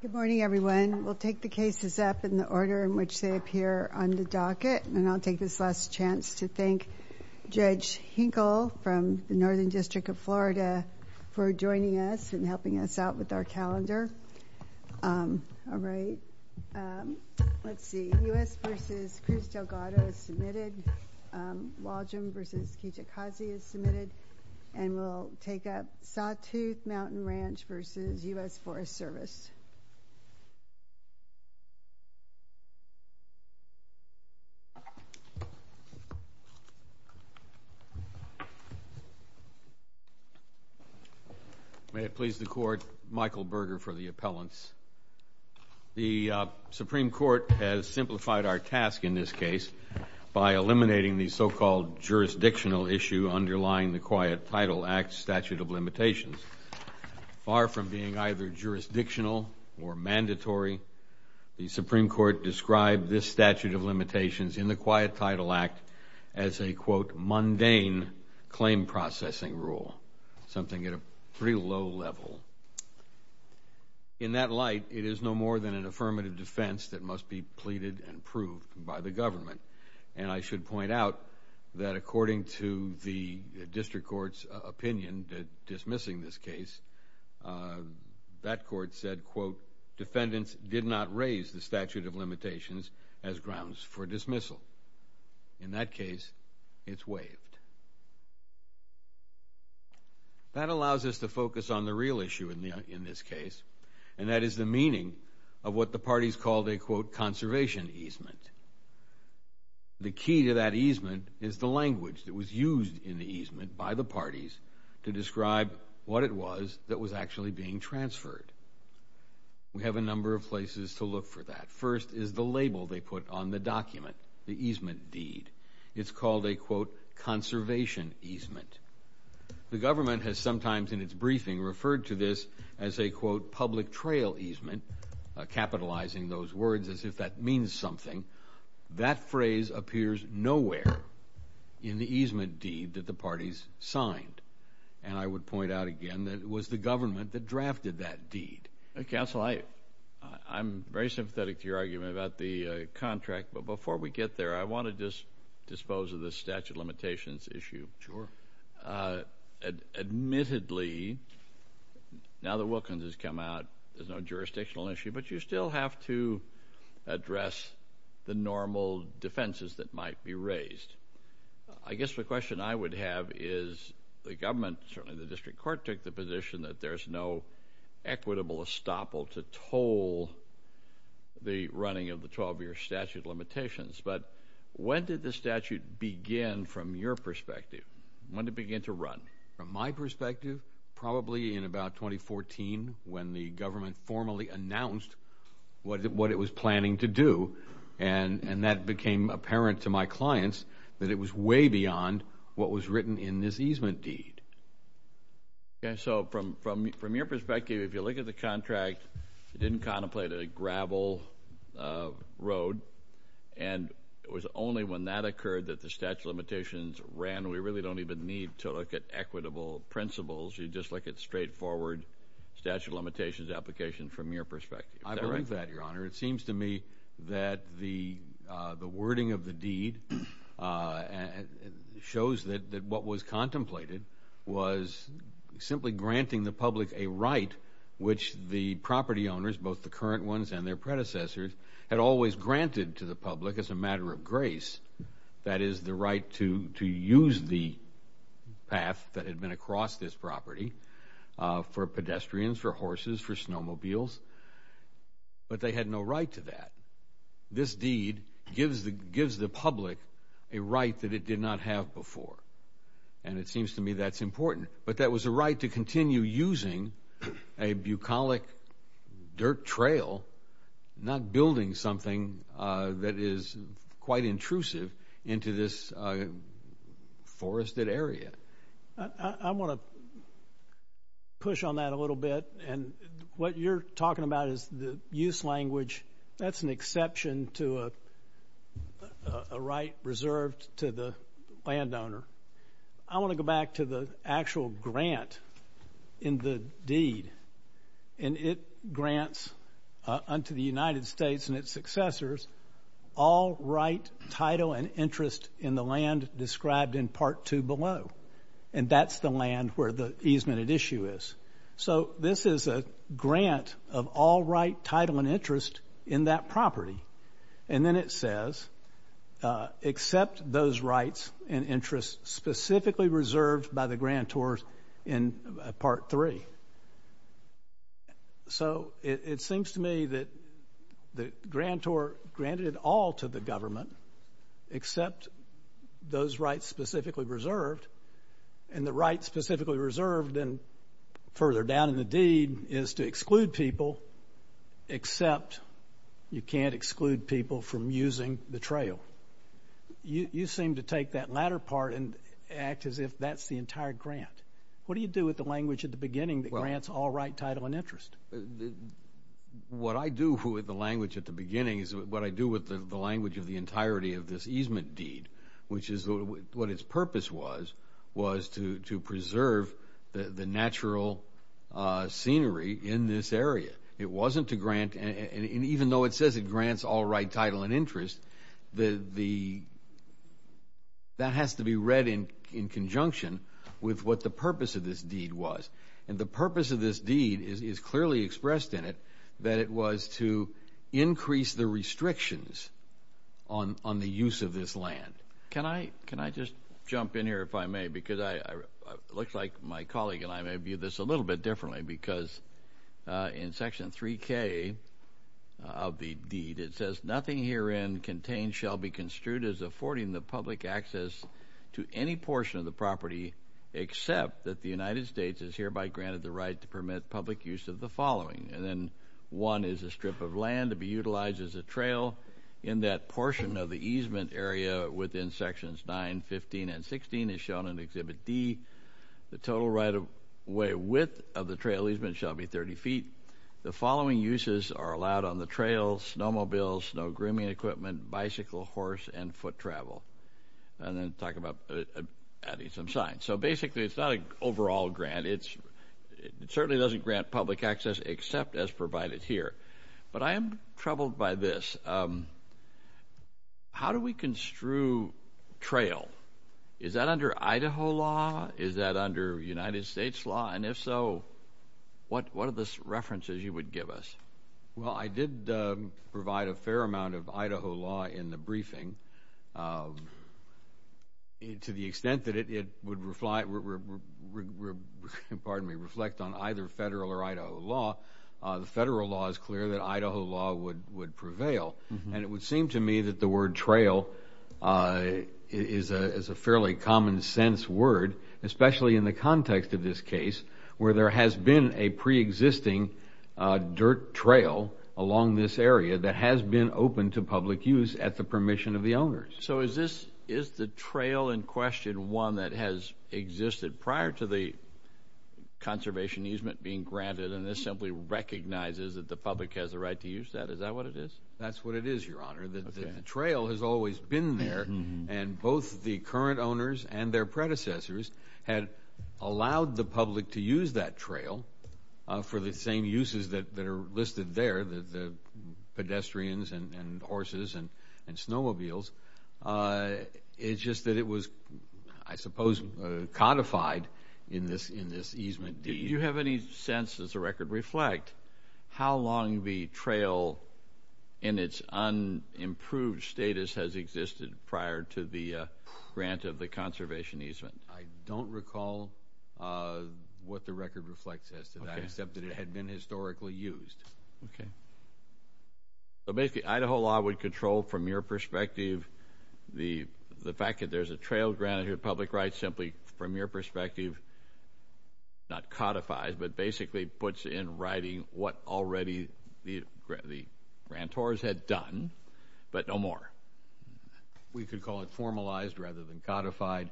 Good morning, everyone. We'll take the cases up in the order in which they appear on the docket, and I'll take this last chance to thank Judge Hinkle from the Northern District of Florida for joining us and helping us out with our calendar. All right, let's see, U.S. v. Cruz Delgado is submitted, Waldron v. Kijikazi is submitted, and we'll take up U.S. v. U.S. Forest Service. May it please the Court, Michael Berger for the appellants. The Supreme Court has simplified our task in this case by eliminating the so-called jurisdictional issue underlying the Quiet Title Act statute of limitations. Far from being either jurisdictional or mandatory, the Supreme Court described this statute of limitations in the Quiet Title Act as a, quote, mundane claim processing rule, something at a pretty low level. In that light, it is no more than an affirmative defense that must be pleaded and proved by the government. And I should point out that according to the district court's opinion that dismissing this case, that court said, quote, defendants did not raise the statute of limitations as grounds for dismissal. In that case, it's waived. That allows us to focus on the real issue in this case, and that is the meaning of what the parties called a, quote, conservation easement. The key to that easement is the language that was used in the easement by the parties to describe what it was that was actually being transferred. We have a number of places to look for that. First is the label they put on the document, the easement deed. It's called a, quote, conservation easement. The government has sometimes in its briefing referred to this as a, quote, public trail easement, capitalizing those words as if that means something. That phrase appears nowhere in the easement deed that the parties signed. And I would point out again that it was the government that drafted that deed. Counsel, I'm very sympathetic to your argument about the contract, but before we get there, I want to just dispose of the statute limitations issue. Admittedly, now that Wilkins has come out, there's no jurisdictional issue, but you still have to address the normal defenses that might be raised. I guess the question I would have is the government, certainly the district court, took the position that there's no equitable estoppel to toll the running of the 12-year statute limitations, but when did the statute begin from your perspective? When did it begin to run? From my perspective, probably in about 2014 when the government formally announced what it was planning to do, and that became apparent to my clients that it was way beyond what was written in this easement deed. Okay, so from your perspective, if you look at the contract, it didn't contemplate a gravel road, and it was only when that occurred that the statute of limitations ran. We really don't even need to look at equitable principles. You just look at straightforward statute of limitations applications from your perspective. I believe that, Your Honor. It seems to me that the wording of the deed shows that what was contemplated was simply granting the public a right which the property owners, both the current ones and their predecessors, had always granted to the public as a matter of grace. That is, the right to use the path that had been across this property for pedestrians, for horses, for snowmobiles, but they had no right to that. This deed gives the public a right that it did not have before, and it seems to me that's important, but that was a right to continue using a bucolic dirt trail, not building something that is quite intrusive into this forested area. I want to push on that a little bit, and what you're talking about is the use language. That's an exception to a right reserved to the landowner. I want to go back to the actual grant in the deed, and it grants unto the United States and its successors all right, title, and interest in the land described in Part 2 below, and that's the land where the easement issue is. So this is a grant of all right, title, and interest in that property, and then it says accept those rights and interests specifically reserved by the grantor in Part 3. So it seems to me that the grantor granted it all to the government except those rights specifically reserved, and the right specifically reserved further down in the deed is to exclude people except you can't exclude people from using the trail. You seem to take that latter part and act as if that's the entire grant. What do you do with the language at the beginning that grants all right, title, and interest? What I do with the language at the beginning is what I do with the language of the entirety of this easement deed, which is what its purpose was, was to preserve the natural scenery in this area. It wasn't to grant, and even though it says it grants all right, title, and interest, that has to be read in conjunction with what the purpose of this deed was, and the purpose of this deed is clearly expressed in it that it was to increase the restrictions on the use of this land. Can I just jump in here if I may, because it looks like my colleague and I may view this a little bit differently, because in Section 3k of the deed, it says, nothing herein contained shall be construed as affording the public access to any portion of granted the right to permit public use of the following, and then one is a strip of land to be utilized as a trail in that portion of the easement area within Sections 9, 15, and 16 as shown in Exhibit D. The total right of way width of the trail easement shall be 30 feet. The following uses are allowed on the trail, snowmobiles, snow grooming equipment, bicycle, horse, and foot certainly doesn't grant public access except as provided here, but I am troubled by this. How do we construe trail? Is that under Idaho law? Is that under United States law? And if so, what are the references you would give us? Well, I did provide a fair amount of Idaho law in the on either federal or Idaho law. The federal law is clear that Idaho law would prevail, and it would seem to me that the word trail is a fairly common sense word, especially in the context of this case where there has been a preexisting dirt trail along this area that has been open to public use at the permission of the owners. So is this, is the trail in question one that has existed prior to the conservation easement being granted, and this simply recognizes that the public has the right to use that? Is that what it is? That's what it is, Your Honor. The trail has always been there, and both the current owners and their predecessors had allowed the public to use that trail for the same uses that are listed there, the I suppose codified in this easement deed. Do you have any sense, does the record reflect, how long the trail in its unimproved status has existed prior to the grant of the conservation easement? I don't recall what the record reflects as to that, except that it had been historically used. Okay. So basically, Idaho law would control, from your perspective, the fact that there's a right, simply from your perspective, not codified, but basically puts in writing what already the grantors had done, but no more. We could call it formalized rather than codified.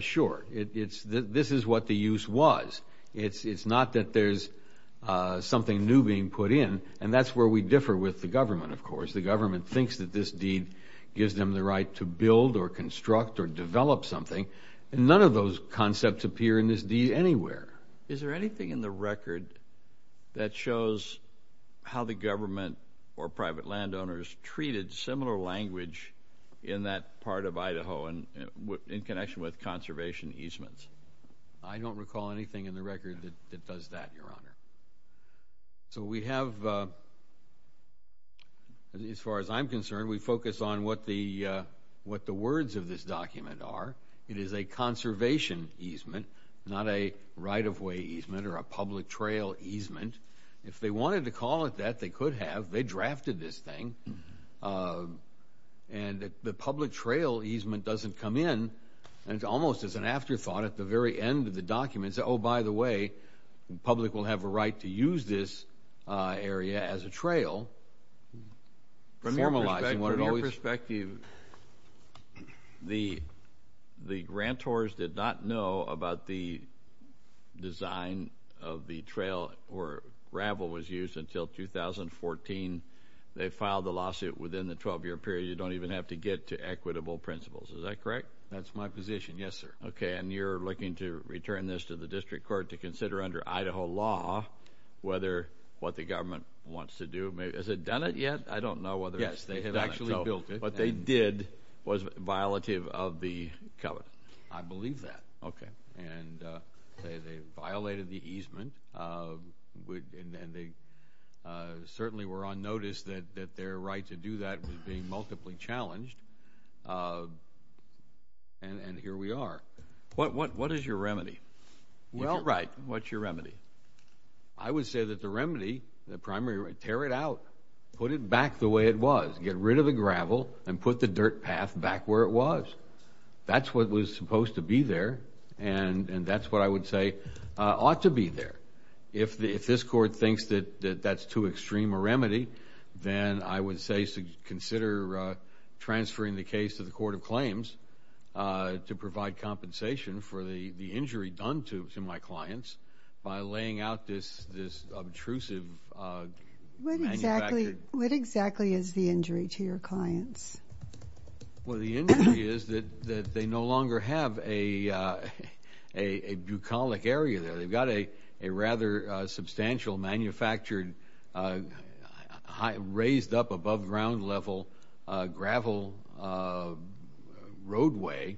Sure. This is what the use was. It's not that there's something new being put in, and that's where we differ with the government, of course. The government thinks that this deed gives them the right to build or construct or develop something, and none of those concepts appear in this deed anywhere. Is there anything in the record that shows how the government or private landowners treated similar language in that part of Idaho in connection with conservation easements? I don't recall anything in the record that does that, what the words of this document are. It is a conservation easement, not a right-of-way easement or a public trail easement. If they wanted to call it that, they could have. They drafted this thing, and the public trail easement doesn't come in, and it's almost as an afterthought at the very end of the document. Oh, by the way, the public will have a right to use this area as a trail. From your perspective, the grantors did not know about the design of the trail where gravel was used until 2014. They filed the lawsuit within the 12-year period. You don't even have to get to equitable principles. Is that correct? That's my position, yes, sir. Okay, and you're looking to return this to the district court to consider under Idaho law whether what the government wants to do—has it done it yet? I don't know whether— Yes, they had actually built it. What they did was violative of the covenant. I believe that. Okay. And they violated the easement, and they certainly were on notice that their right to do that was being multiply challenged, and here we are. What is your remedy? Well, right, what's your remedy? I would say that the remedy, the primary—tear it out. Put it back the way it was. Get rid of the gravel and put the dirt path back where it was. That's what was supposed to be there, and that's what I would say ought to be there. If this court thinks that that's too extreme a remedy, then I would say consider transferring the case to the court of claims to provide compensation for the injury done to my clients by laying out this obtrusive manufactured— What exactly is the injury to your clients? Well, the injury is that they no longer have a bucolic area there. They've got a rather substantial manufactured raised up above ground level gravel roadway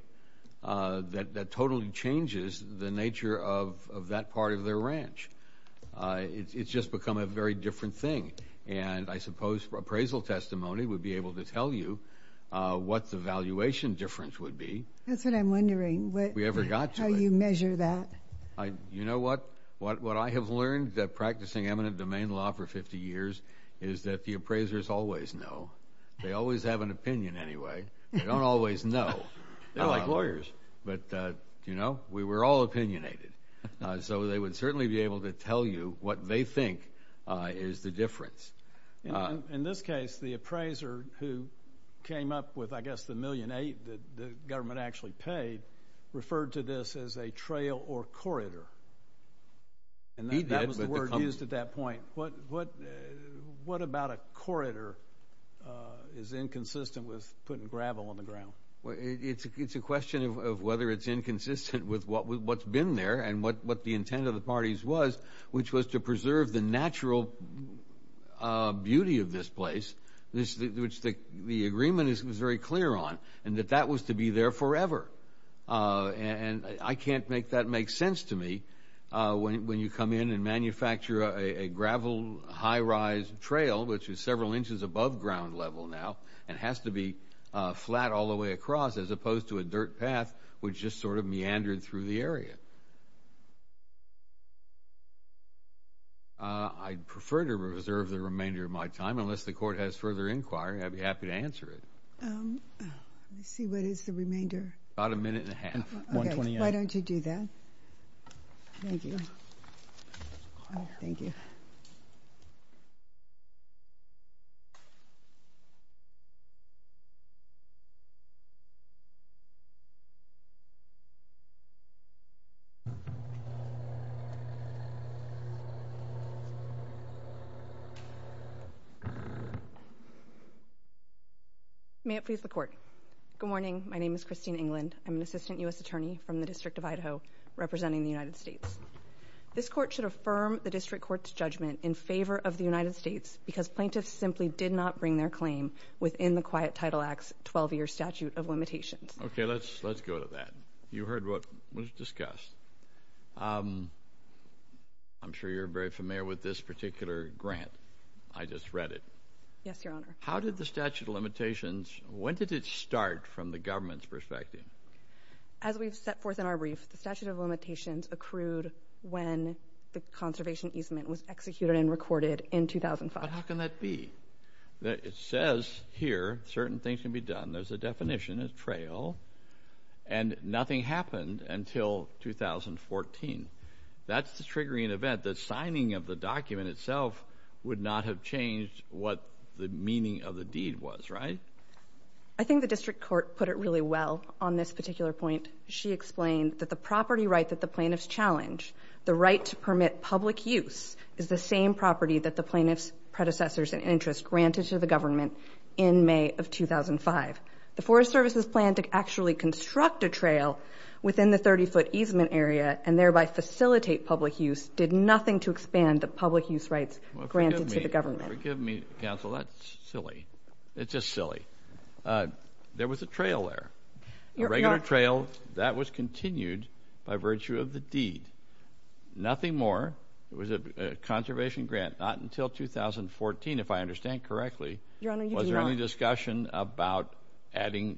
that totally changes the nature of that part of their ranch. It's just become a very different thing, and I suppose appraisal testimony would be able to tell you what the valuation difference would be. That's what I'm wondering. We ever got to it. How you measure that. You know what? What I have learned practicing eminent domain law for 50 years is that the appraisers always know. They always have an opinion anyway. They don't always know. They're like lawyers. But, you know, we were all opinionated, so they would certainly be able to tell you what they think is the difference. In this case, the appraiser who came up with, I guess, the $1.8 million that the government actually paid referred to this as a trail or corridor. And that was the word used at that point. What about a corridor is inconsistent with putting gravel on the ground? It's a question of whether it's inconsistent with what's been there and what the intent of the parties was, which was to preserve the natural beauty of this place, which the And I can't make that make sense to me when you come in and manufacture a gravel high rise trail, which is several inches above ground level now and has to be flat all the way across as opposed to a dirt path, which just sort of meandered through the area. I'd prefer to reserve the remainder of my time. Unless the court has further inquiry, I'd be happy to answer it. Let me see. What is the remainder? About a minute and a half. 1.29. Why don't you do that? Thank you. Thank you. Thank you. May it please the court. Good morning. My name is Christine England. I'm an assistant U.S. attorney from the District of Idaho representing the United States. This court should affirm the district court's judgment in favor of the United States because plaintiffs simply did not bring their claim within the Quiet Title Act's 12-year statute of limitations. Okay, let's go to that. You heard what was discussed. I'm sure you're very familiar with this particular grant. I just read it. Yes, Your Honor. How did the statute of limitations, when did it start from the government's perspective? As we've set forth in our brief, the statute of limitations accrued when the conservation easement was executed and recorded in 2005. But how can that be? It says here certain things can be done. There's a definition, a trail, and nothing happened until 2014. That's the triggering event. The signing of the document itself would not have changed what the meaning of the deed was, right? I think the district court put it really well on this particular point. She explained that the property right that the plaintiffs challenge, the right to permit public use, is the same property that the plaintiff's predecessors and interests granted to the government in May of 2005. The Forest Service's plan to actually construct a trail within the 30-foot easement area and thereby facilitate public use did nothing to expand the public use rights granted to the government. Forgive me, counsel. That's silly. It's just silly. There was a trail there, a regular trail that was continued by virtue of the deed. Nothing more. It was a conservation grant, not until 2014, if I understand correctly. Your Honor, you do not. Was there any discussion about adding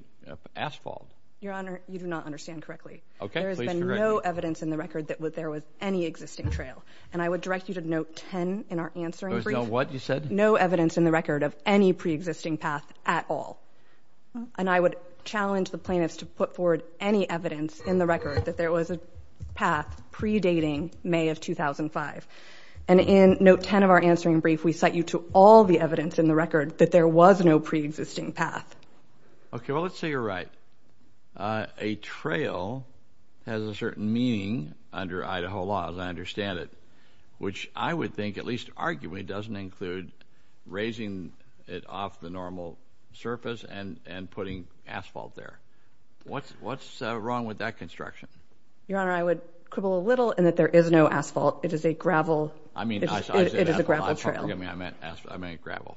asphalt? Your Honor, you do not understand correctly. Okay, please correct me. There has been no evidence in the record that there was any existing trail. And I would direct you to note 10 in our answering brief. There was no what, you said? No evidence in the record of any preexisting path at all. And I would challenge the plaintiffs to put forward any evidence in the record that there was a path predating May of 2005. And in note 10 of our answering brief, we cite you to all the evidence in the record that there was no preexisting path. Okay, well, let's say you're right. A trail has a certain meaning under Idaho law, as I understand it, which I would think, at least arguably, doesn't include raising it off the normal surface and putting asphalt there. What's wrong with that construction? Your Honor, I would quibble a little in that there is no asphalt. It is a gravel. I mean, it is a gravel trail. Forgive me, I meant gravel.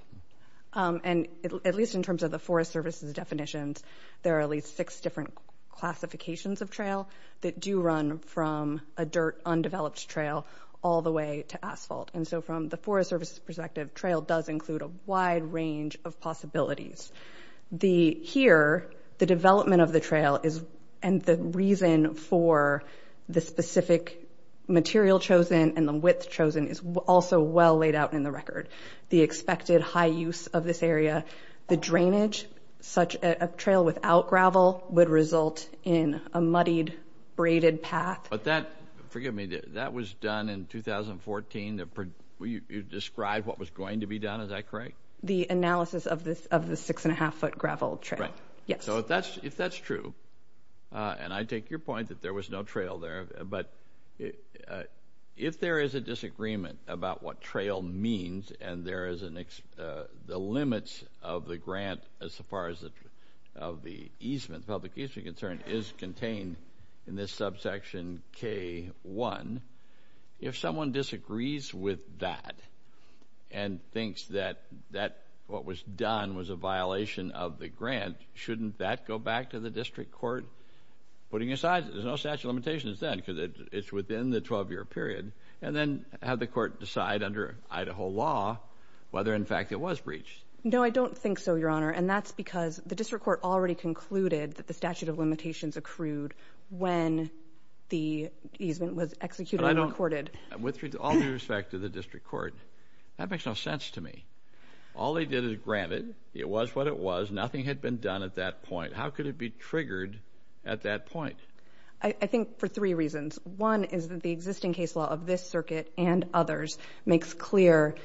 And at least in terms of the Forest Service's definitions, there are at least six different classifications of trail that do run from a dirt, undeveloped trail all the way to asphalt. So from the Forest Service's perspective, trail does include a wide range of possibilities. Here, the development of the trail and the reason for the specific material chosen and the width chosen is also well laid out in the record. The expected high use of this area, the drainage, such a trail without gravel would result in a muddied, braided path. Forgive me, that was done in 2014. Will you describe what was going to be done? Is that correct? The analysis of the six-and-a-half-foot gravel trail. If that's true, and I take your point that there was no trail there, but if there is a disagreement about what trail means and the limits of the grant as far as the public is concerned is contained in this subsection K-1, if someone disagrees with that and thinks that what was done was a violation of the grant, shouldn't that go back to the district court, putting aside that there's no statute of limitations then because it's within the 12-year period, and then have the court decide under Idaho law whether, in fact, it was breached? No, I don't think so, Your Honor, and that's because the district court already concluded that the statute of limitations accrued when the easement was executed and recorded. With all due respect to the district court, that makes no sense to me. All they did is grant it. It was what it was. Nothing had been done at that point. How could it be triggered at that point? I think for three reasons. One is that the existing case law of this circuit and others makes clear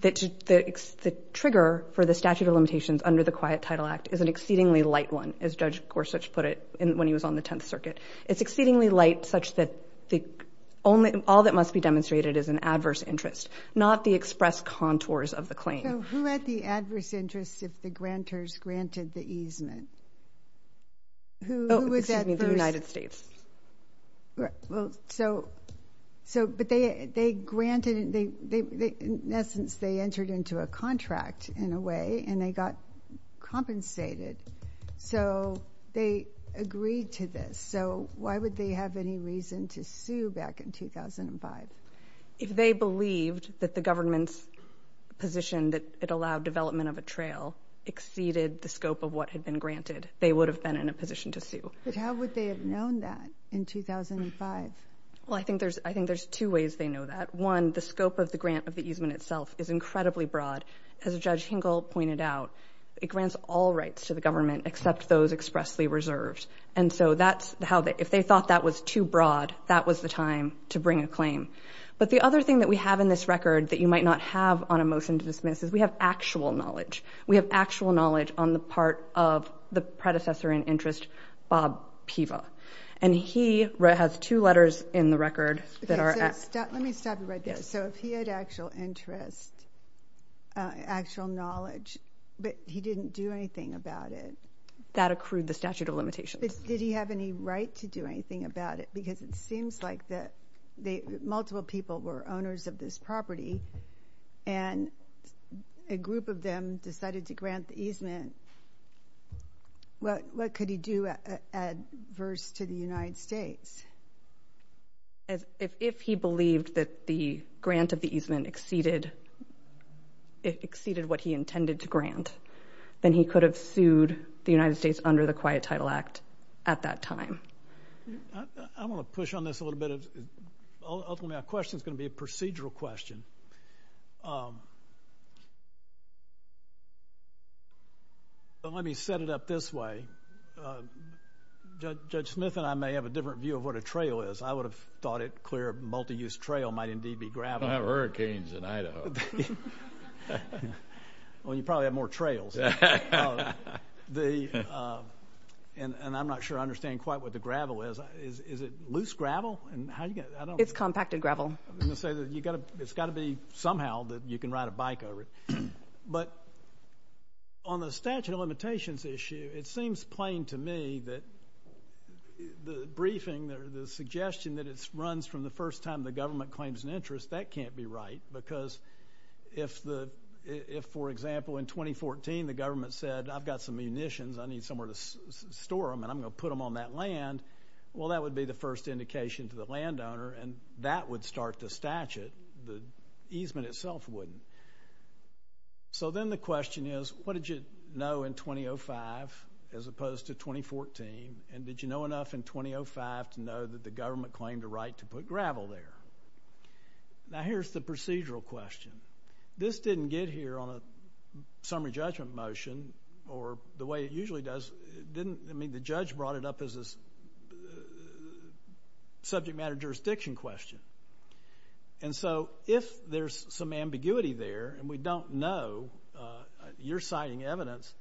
that the trigger for the statute of limitations under the Quiet Title Act is an exceedingly light one, as Judge Gorsuch put it when he was on the Tenth Circuit. It's exceedingly light such that all that must be demonstrated is an adverse interest, not the express contours of the claim. So who had the adverse interest if the grantors granted the easement? Who was that person? Oh, excuse me, the United States. Well, so, but they granted, in essence, they entered into a contract in a way, and they got compensated. So they agreed to this. So why would they have any reason to sue back in 2005? If they believed that the government's position that it allowed development of a trail exceeded the scope of what had been granted, they would have been in a position to sue. But how would they have known that in 2005? Well, I think there's two ways they know that. One, the scope of the grant of the easement itself is incredibly broad. As Judge Hinkle pointed out, it grants all rights to the government except those expressly reserved. And so that's how they, if they thought that was too broad, that was the time to bring a claim. But the other thing that we have in this record that you might not have on a motion to dismiss is we have actual knowledge. We have actual knowledge on the part of the predecessor in interest, Bob Piva. And he has two letters in the record that are... Let me stop you right there. So if he had actual interest, actual knowledge, but he didn't do anything about it. That accrued the statute of limitations. Did he have any right to do anything about it? Because it seems like that multiple people were owners of this property and a group of them decided to grant the easement. What could he do adverse to the United States? If he believed that the grant of the easement exceeded what he intended to grant, then he could have sued the United States under the Quiet Title Act at that time. I want to push on this a little bit. Ultimately, our question is going to be a procedural question. Let me set it up this way. Judge Smith and I may have a different view of what a trail is. I would have thought it clear a multi-use trail might indeed be gravel. We don't have hurricanes in Idaho. Well, you probably have more trails. And I'm not sure I understand quite what the gravel is. Is it loose gravel? It's compacted gravel. It's got to be somehow that you can ride a bike over it. But on the statute of limitations issue, it seems plain to me that the briefing or the suggestion that it runs from the first time the government claims an interest, that can't be right. Because if, for example, in 2014, the government said, I've got some munitions. I need somewhere to store them, and I'm going to put them on that land. Well, that would be the first indication to the landowner, and that would start the statute. The easement itself wouldn't. And so then the question is, what did you know in 2005 as opposed to 2014, and did you know enough in 2005 to know that the government claimed a right to put gravel there? Now, here's the procedural question. This didn't get here on a summary judgment motion or the way it usually does. The judge brought it up as a subject matter jurisdiction question. And so if there's some ambiguity there, and we don't know, you're citing evidence.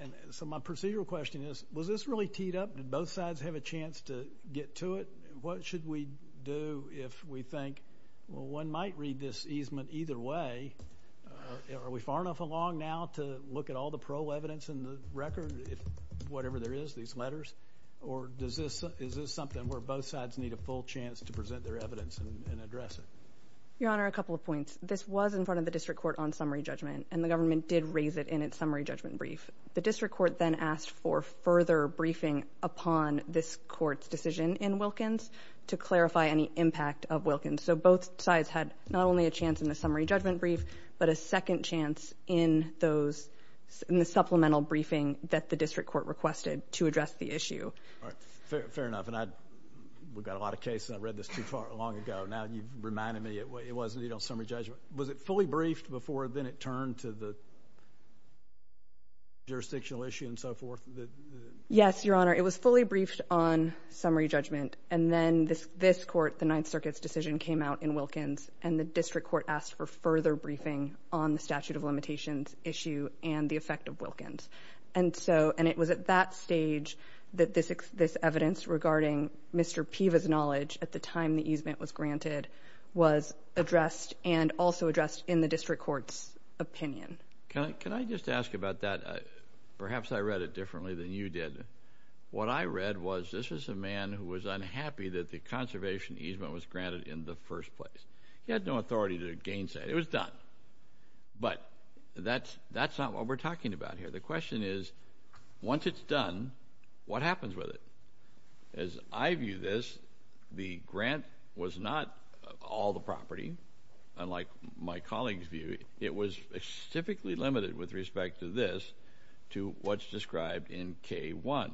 And so my procedural question is, was this really teed up? Did both sides have a chance to get to it? What should we do if we think, well, one might read this easement either way? Are we far enough along now to look at all the parole evidence in the record, whatever there is, these letters? Or is this something where both sides need a full chance to present their evidence? Your Honor, a couple of points. This was in front of the district court on summary judgment, and the government did raise it in its summary judgment brief. The district court then asked for further briefing upon this court's decision in Wilkins to clarify any impact of Wilkins. So both sides had not only a chance in the summary judgment brief, but a second chance in the supplemental briefing that the district court requested to address the issue. Fair enough. We've got a lot of cases. I read this too far long ago. Now you've reminded me it wasn't, you know, summary judgment. Was it fully briefed before then it turned to the jurisdictional issue and so forth? Yes, Your Honor. It was fully briefed on summary judgment. And then this court, the Ninth Circuit's decision came out in Wilkins, and the district court asked for further briefing on the statute of limitations issue and the effect of Wilkins. And so, and it was at that stage that this evidence regarding Mr. Piva's knowledge at the time the easement was granted was addressed and also addressed in the district court's opinion. Can I just ask about that? Perhaps I read it differently than you did. What I read was this is a man who was unhappy that the conservation easement was granted in the first place. He had no authority to gainsay. It was done. But that's not what we're talking about here. The question is, once it's done, what happens with it? As I view this, the grant was not all the property, unlike my colleagues view. It was specifically limited with respect to this, to what's described in K-1.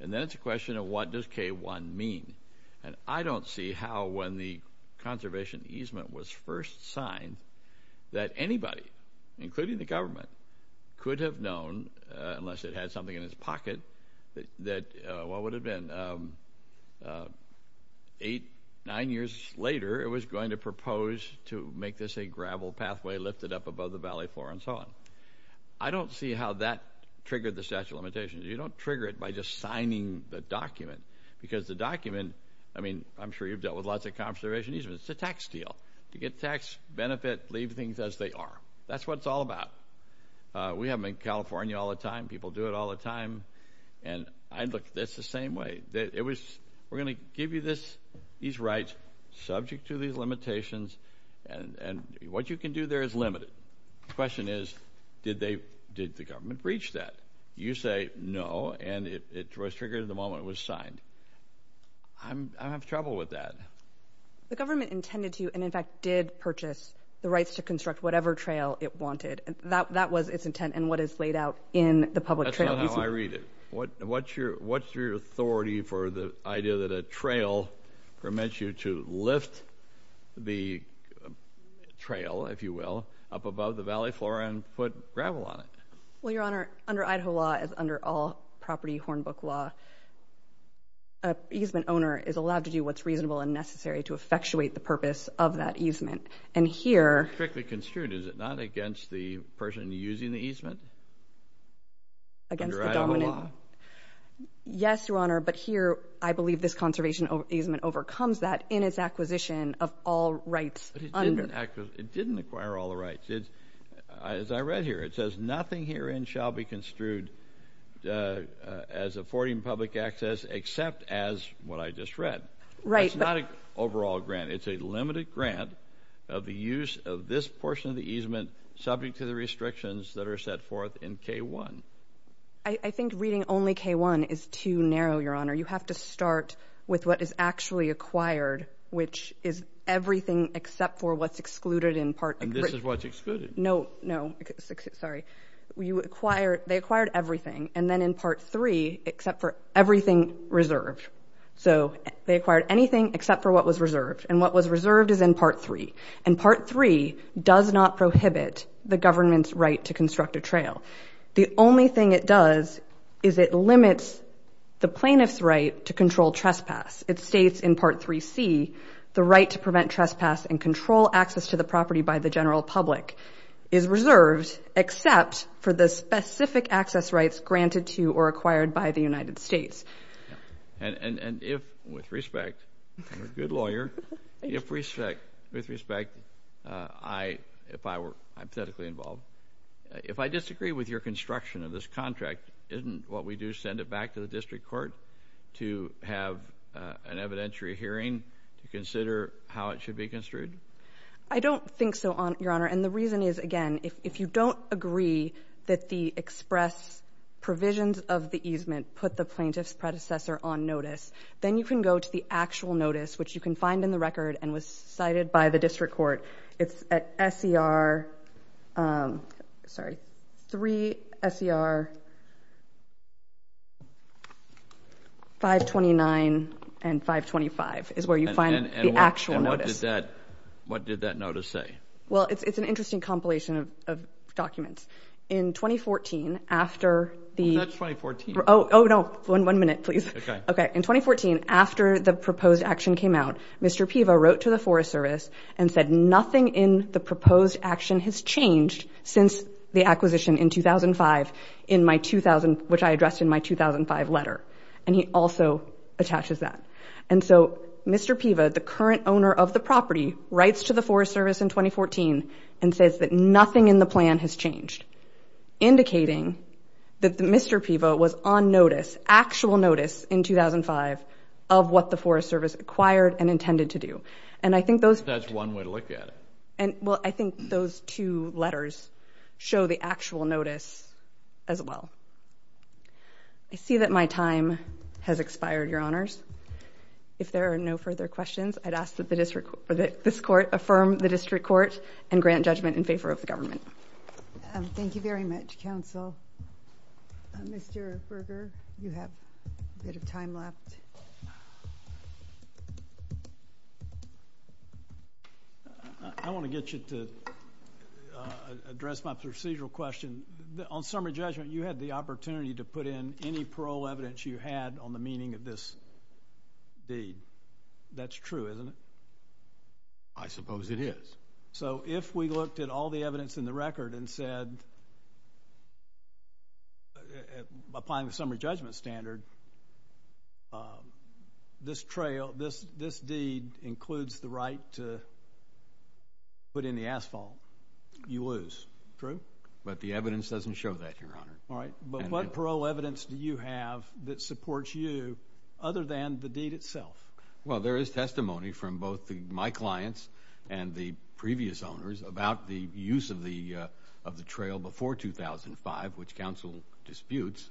And then it's a question of what does K-1 mean? And I don't see how when the conservation easement was first signed that anybody, including the government, could have known, unless it had something in its pocket, that what would have been eight, nine years later it was going to propose to make this a gravel pathway lifted up above the valley floor and so on. I don't see how that triggered the statute of limitations. You don't trigger it by just signing the document, because the document, I mean, I'm sure you've dealt with lots of conservation easements. It's a tax deal. To get tax benefit, leave things as they are. That's what it's all about. We have them in California all the time. People do it all the time. And I look at this the same way. We're going to give you these rights subject to these limitations, and what you can do there is limited. The question is, did the government breach that? You say no, and it was triggered the moment it was signed. I have trouble with that. The government intended to and, in fact, did purchase the rights to construct whatever trail it wanted. And that was its intent and what is laid out in the public trail. That's not how I read it. What's your authority for the idea that a trail permits you to lift the trail, if you will, up above the valley floor and put gravel on it? Well, Your Honor, under Idaho law, as under all property hornbook law, an easement owner is allowed to do what's reasonable and necessary to effectuate the purpose of that easement. And here— Strictly construed. Is it not against the person using the easement? Against the dominant— Under Idaho law. Yes, Your Honor, but here I believe this conservation easement overcomes that in its acquisition of all rights— But it didn't acquire all the rights. As I read here, it says, nothing herein shall be construed as affording public access except as what I just read. Right, but— That's not an overall grant. It's a limited grant of the use of this portion of the easement subject to the restrictions that are set forth in K-1. I think reading only K-1 is too narrow, Your Honor. You have to start with what is actually acquired, which is everything except for what's excluded in part— And this is what's excluded. No, no, sorry. You acquire— They acquired everything, and then in part 3, except for everything reserved. So they acquired anything except for what was reserved, and what was reserved is in part 3. And part 3 does not prohibit the government's right to construct a trail. The only thing it does is it limits the plaintiff's right to control trespass. It states in part 3C, the right to prevent trespass and control access to the property by the general public is reserved except for the specific access rights granted to or acquired by the United States. And if, with respect—I'm a good lawyer—if respect, with respect, I, if I were hypothetically involved, if I disagree with your construction of this contract, isn't what we do send it back to the district court to have an evidentiary hearing to consider how it should be construed? I don't think so, Your Honor. And the reason is, again, if you don't agree that the express provisions of the easement put the plaintiff's predecessor on notice, then you can go to the actual notice, which you can find in the record and was cited by the district court. It's at SCR, sorry, 3 SCR 529 and 525 is where you find the actual notice. What did that notice say? Well, it's an interesting compilation of documents. In 2014, after the— That's 2014. Oh, no, one minute, please. Okay. Okay. In 2014, after the proposed action came out, Mr. Piva wrote to the Forest Service and said nothing in the proposed action has changed since the acquisition in 2005 in my 2000, which I addressed in my 2005 letter. And he also attaches that. And so Mr. Piva, the current owner of the property, writes to the Forest Service in 2014 and says that nothing in the plan has changed, indicating that Mr. Piva was on notice, actual notice in 2005 of what the Forest Service acquired and intended to do. And I think those— That's one way to look at it. And, well, I think those two letters show the actual notice as well. I see that my time has expired, Your Honors. If there are no further questions, I'd ask that this Court affirm the District Court and grant judgment in favor of the government. Thank you very much, counsel. Mr. Berger, you have a bit of time left. I want to get you to address my procedural question. On summary judgment, you had the opportunity to put in any parole evidence you had on the meaning of this deed. That's true, isn't it? I suppose it is. So if we looked at all the evidence in the record and said, applying the summary judgment standard, this trail, this deed includes the right to put in the asphalt, you lose. True? But the evidence doesn't show that, Your Honor. All right. But what parole evidence do you have that supports you other than the deed itself? Well, there is testimony from both my clients and the previous owners about the use of the trail before 2005, which counsel disputes.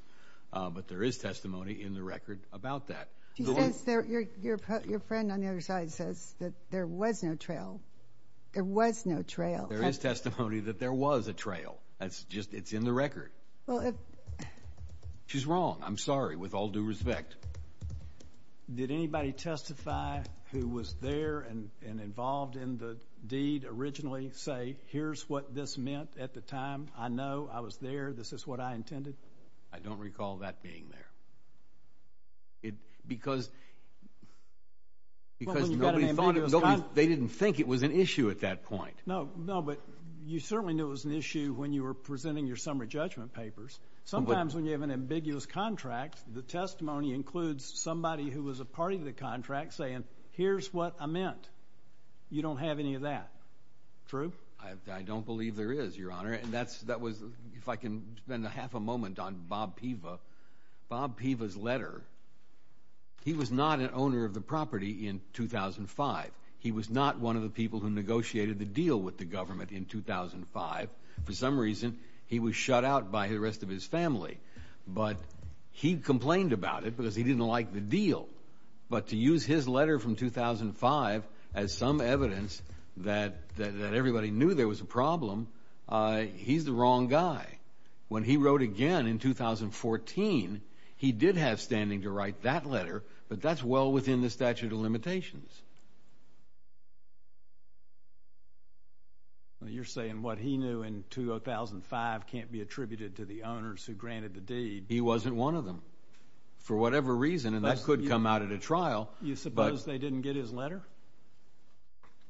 But there is testimony in the record about that. Your friend on the other side says that there was no trail. There was no trail. There is testimony that there was a trail. That's just—it's in the record. Well, if— She's wrong. I'm sorry. With all due respect. Did anybody testify who was there and involved in the deed originally say, here's what this meant at the time? I know. I was there. This is what I intended? I don't recall that being there. Because nobody thought it. They didn't think it was an issue at that point. No, no. You certainly knew it was an issue when you were presenting your summary judgment papers. Sometimes when you have an ambiguous contract, the testimony includes somebody who was a part of the contract saying, here's what I meant. You don't have any of that. True? I don't believe there is, Your Honor. And that was—if I can spend half a moment on Bob Piva. Bob Piva's letter, he was not an owner of the property in 2005. He was not one of the people who negotiated the deal with the government in 2005. For some reason, he was shut out by the rest of his family. But he complained about it because he didn't like the deal. But to use his letter from 2005 as some evidence that everybody knew there was a problem, he's the wrong guy. When he wrote again in 2014, he did have standing to write that letter, but that's well within the statute of limitations. Well, you're saying what he knew in 2005 can't be attributed to the owners who granted the deed. He wasn't one of them, for whatever reason. And that could come out at a trial. You suppose they didn't get his letter?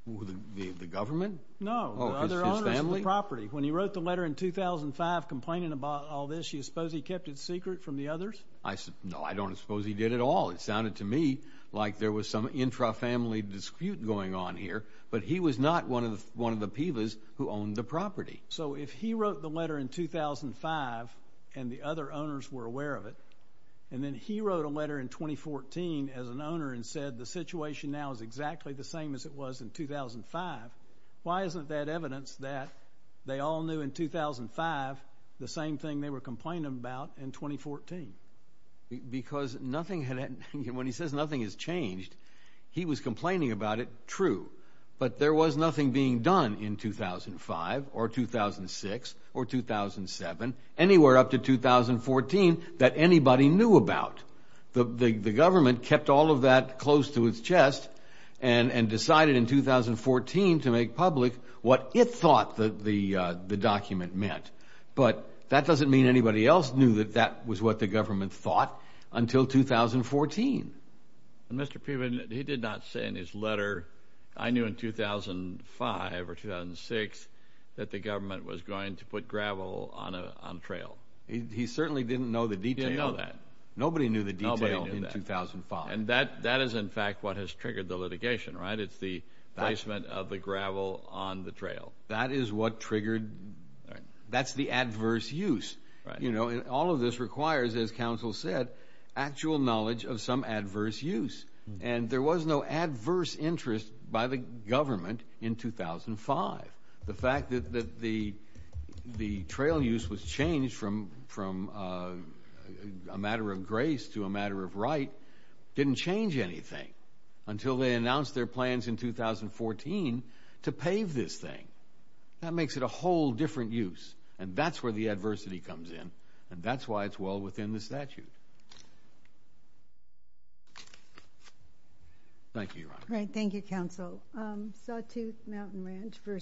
The government? No, the other owners of the property. When he wrote the letter in 2005 complaining about all this, you suppose he kept it secret from the others? I—no, I don't suppose he did at all. It sounded to me like there was some intrafamily dispute going on here, but he was not one of the PIVAs who owned the property. So if he wrote the letter in 2005 and the other owners were aware of it, and then he wrote a letter in 2014 as an owner and said the situation now is exactly the same as it was in 2005, why isn't that evidence that they all knew in 2005 the same thing they were complaining about in 2014? Because nothing had—when he says nothing has changed, he was complaining about it, true. But there was nothing being done in 2005 or 2006 or 2007, anywhere up to 2014, that anybody knew about. The government kept all of that close to its chest and decided in 2014 to make public what it thought the document meant. But that doesn't mean anybody else knew that that was what the government thought until 2014. And Mr. Piven, he did not say in his letter, I knew in 2005 or 2006 that the government was going to put gravel on a trail. He certainly didn't know the detail. He didn't know that. Nobody knew the detail in 2005. And that is, in fact, what has triggered the litigation, right? It's the placement of the gravel on the trail. That is what triggered— that's the adverse use. You know, all of this requires, as counsel said, actual knowledge of some adverse use. And there was no adverse interest by the government in 2005. The fact that the trail use was changed from a matter of grace to a matter of right didn't change anything until they announced their plans in 2014 to pave this thing. That makes it a whole different use. And that's where the adversity comes in. And that's why it's well within the statute. Thank you, Your Honor. Right. Thank you, counsel. Sawtooth Mountain Ranch v.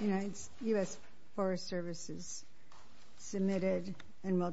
United— U.S. Forest Service has submitted and will—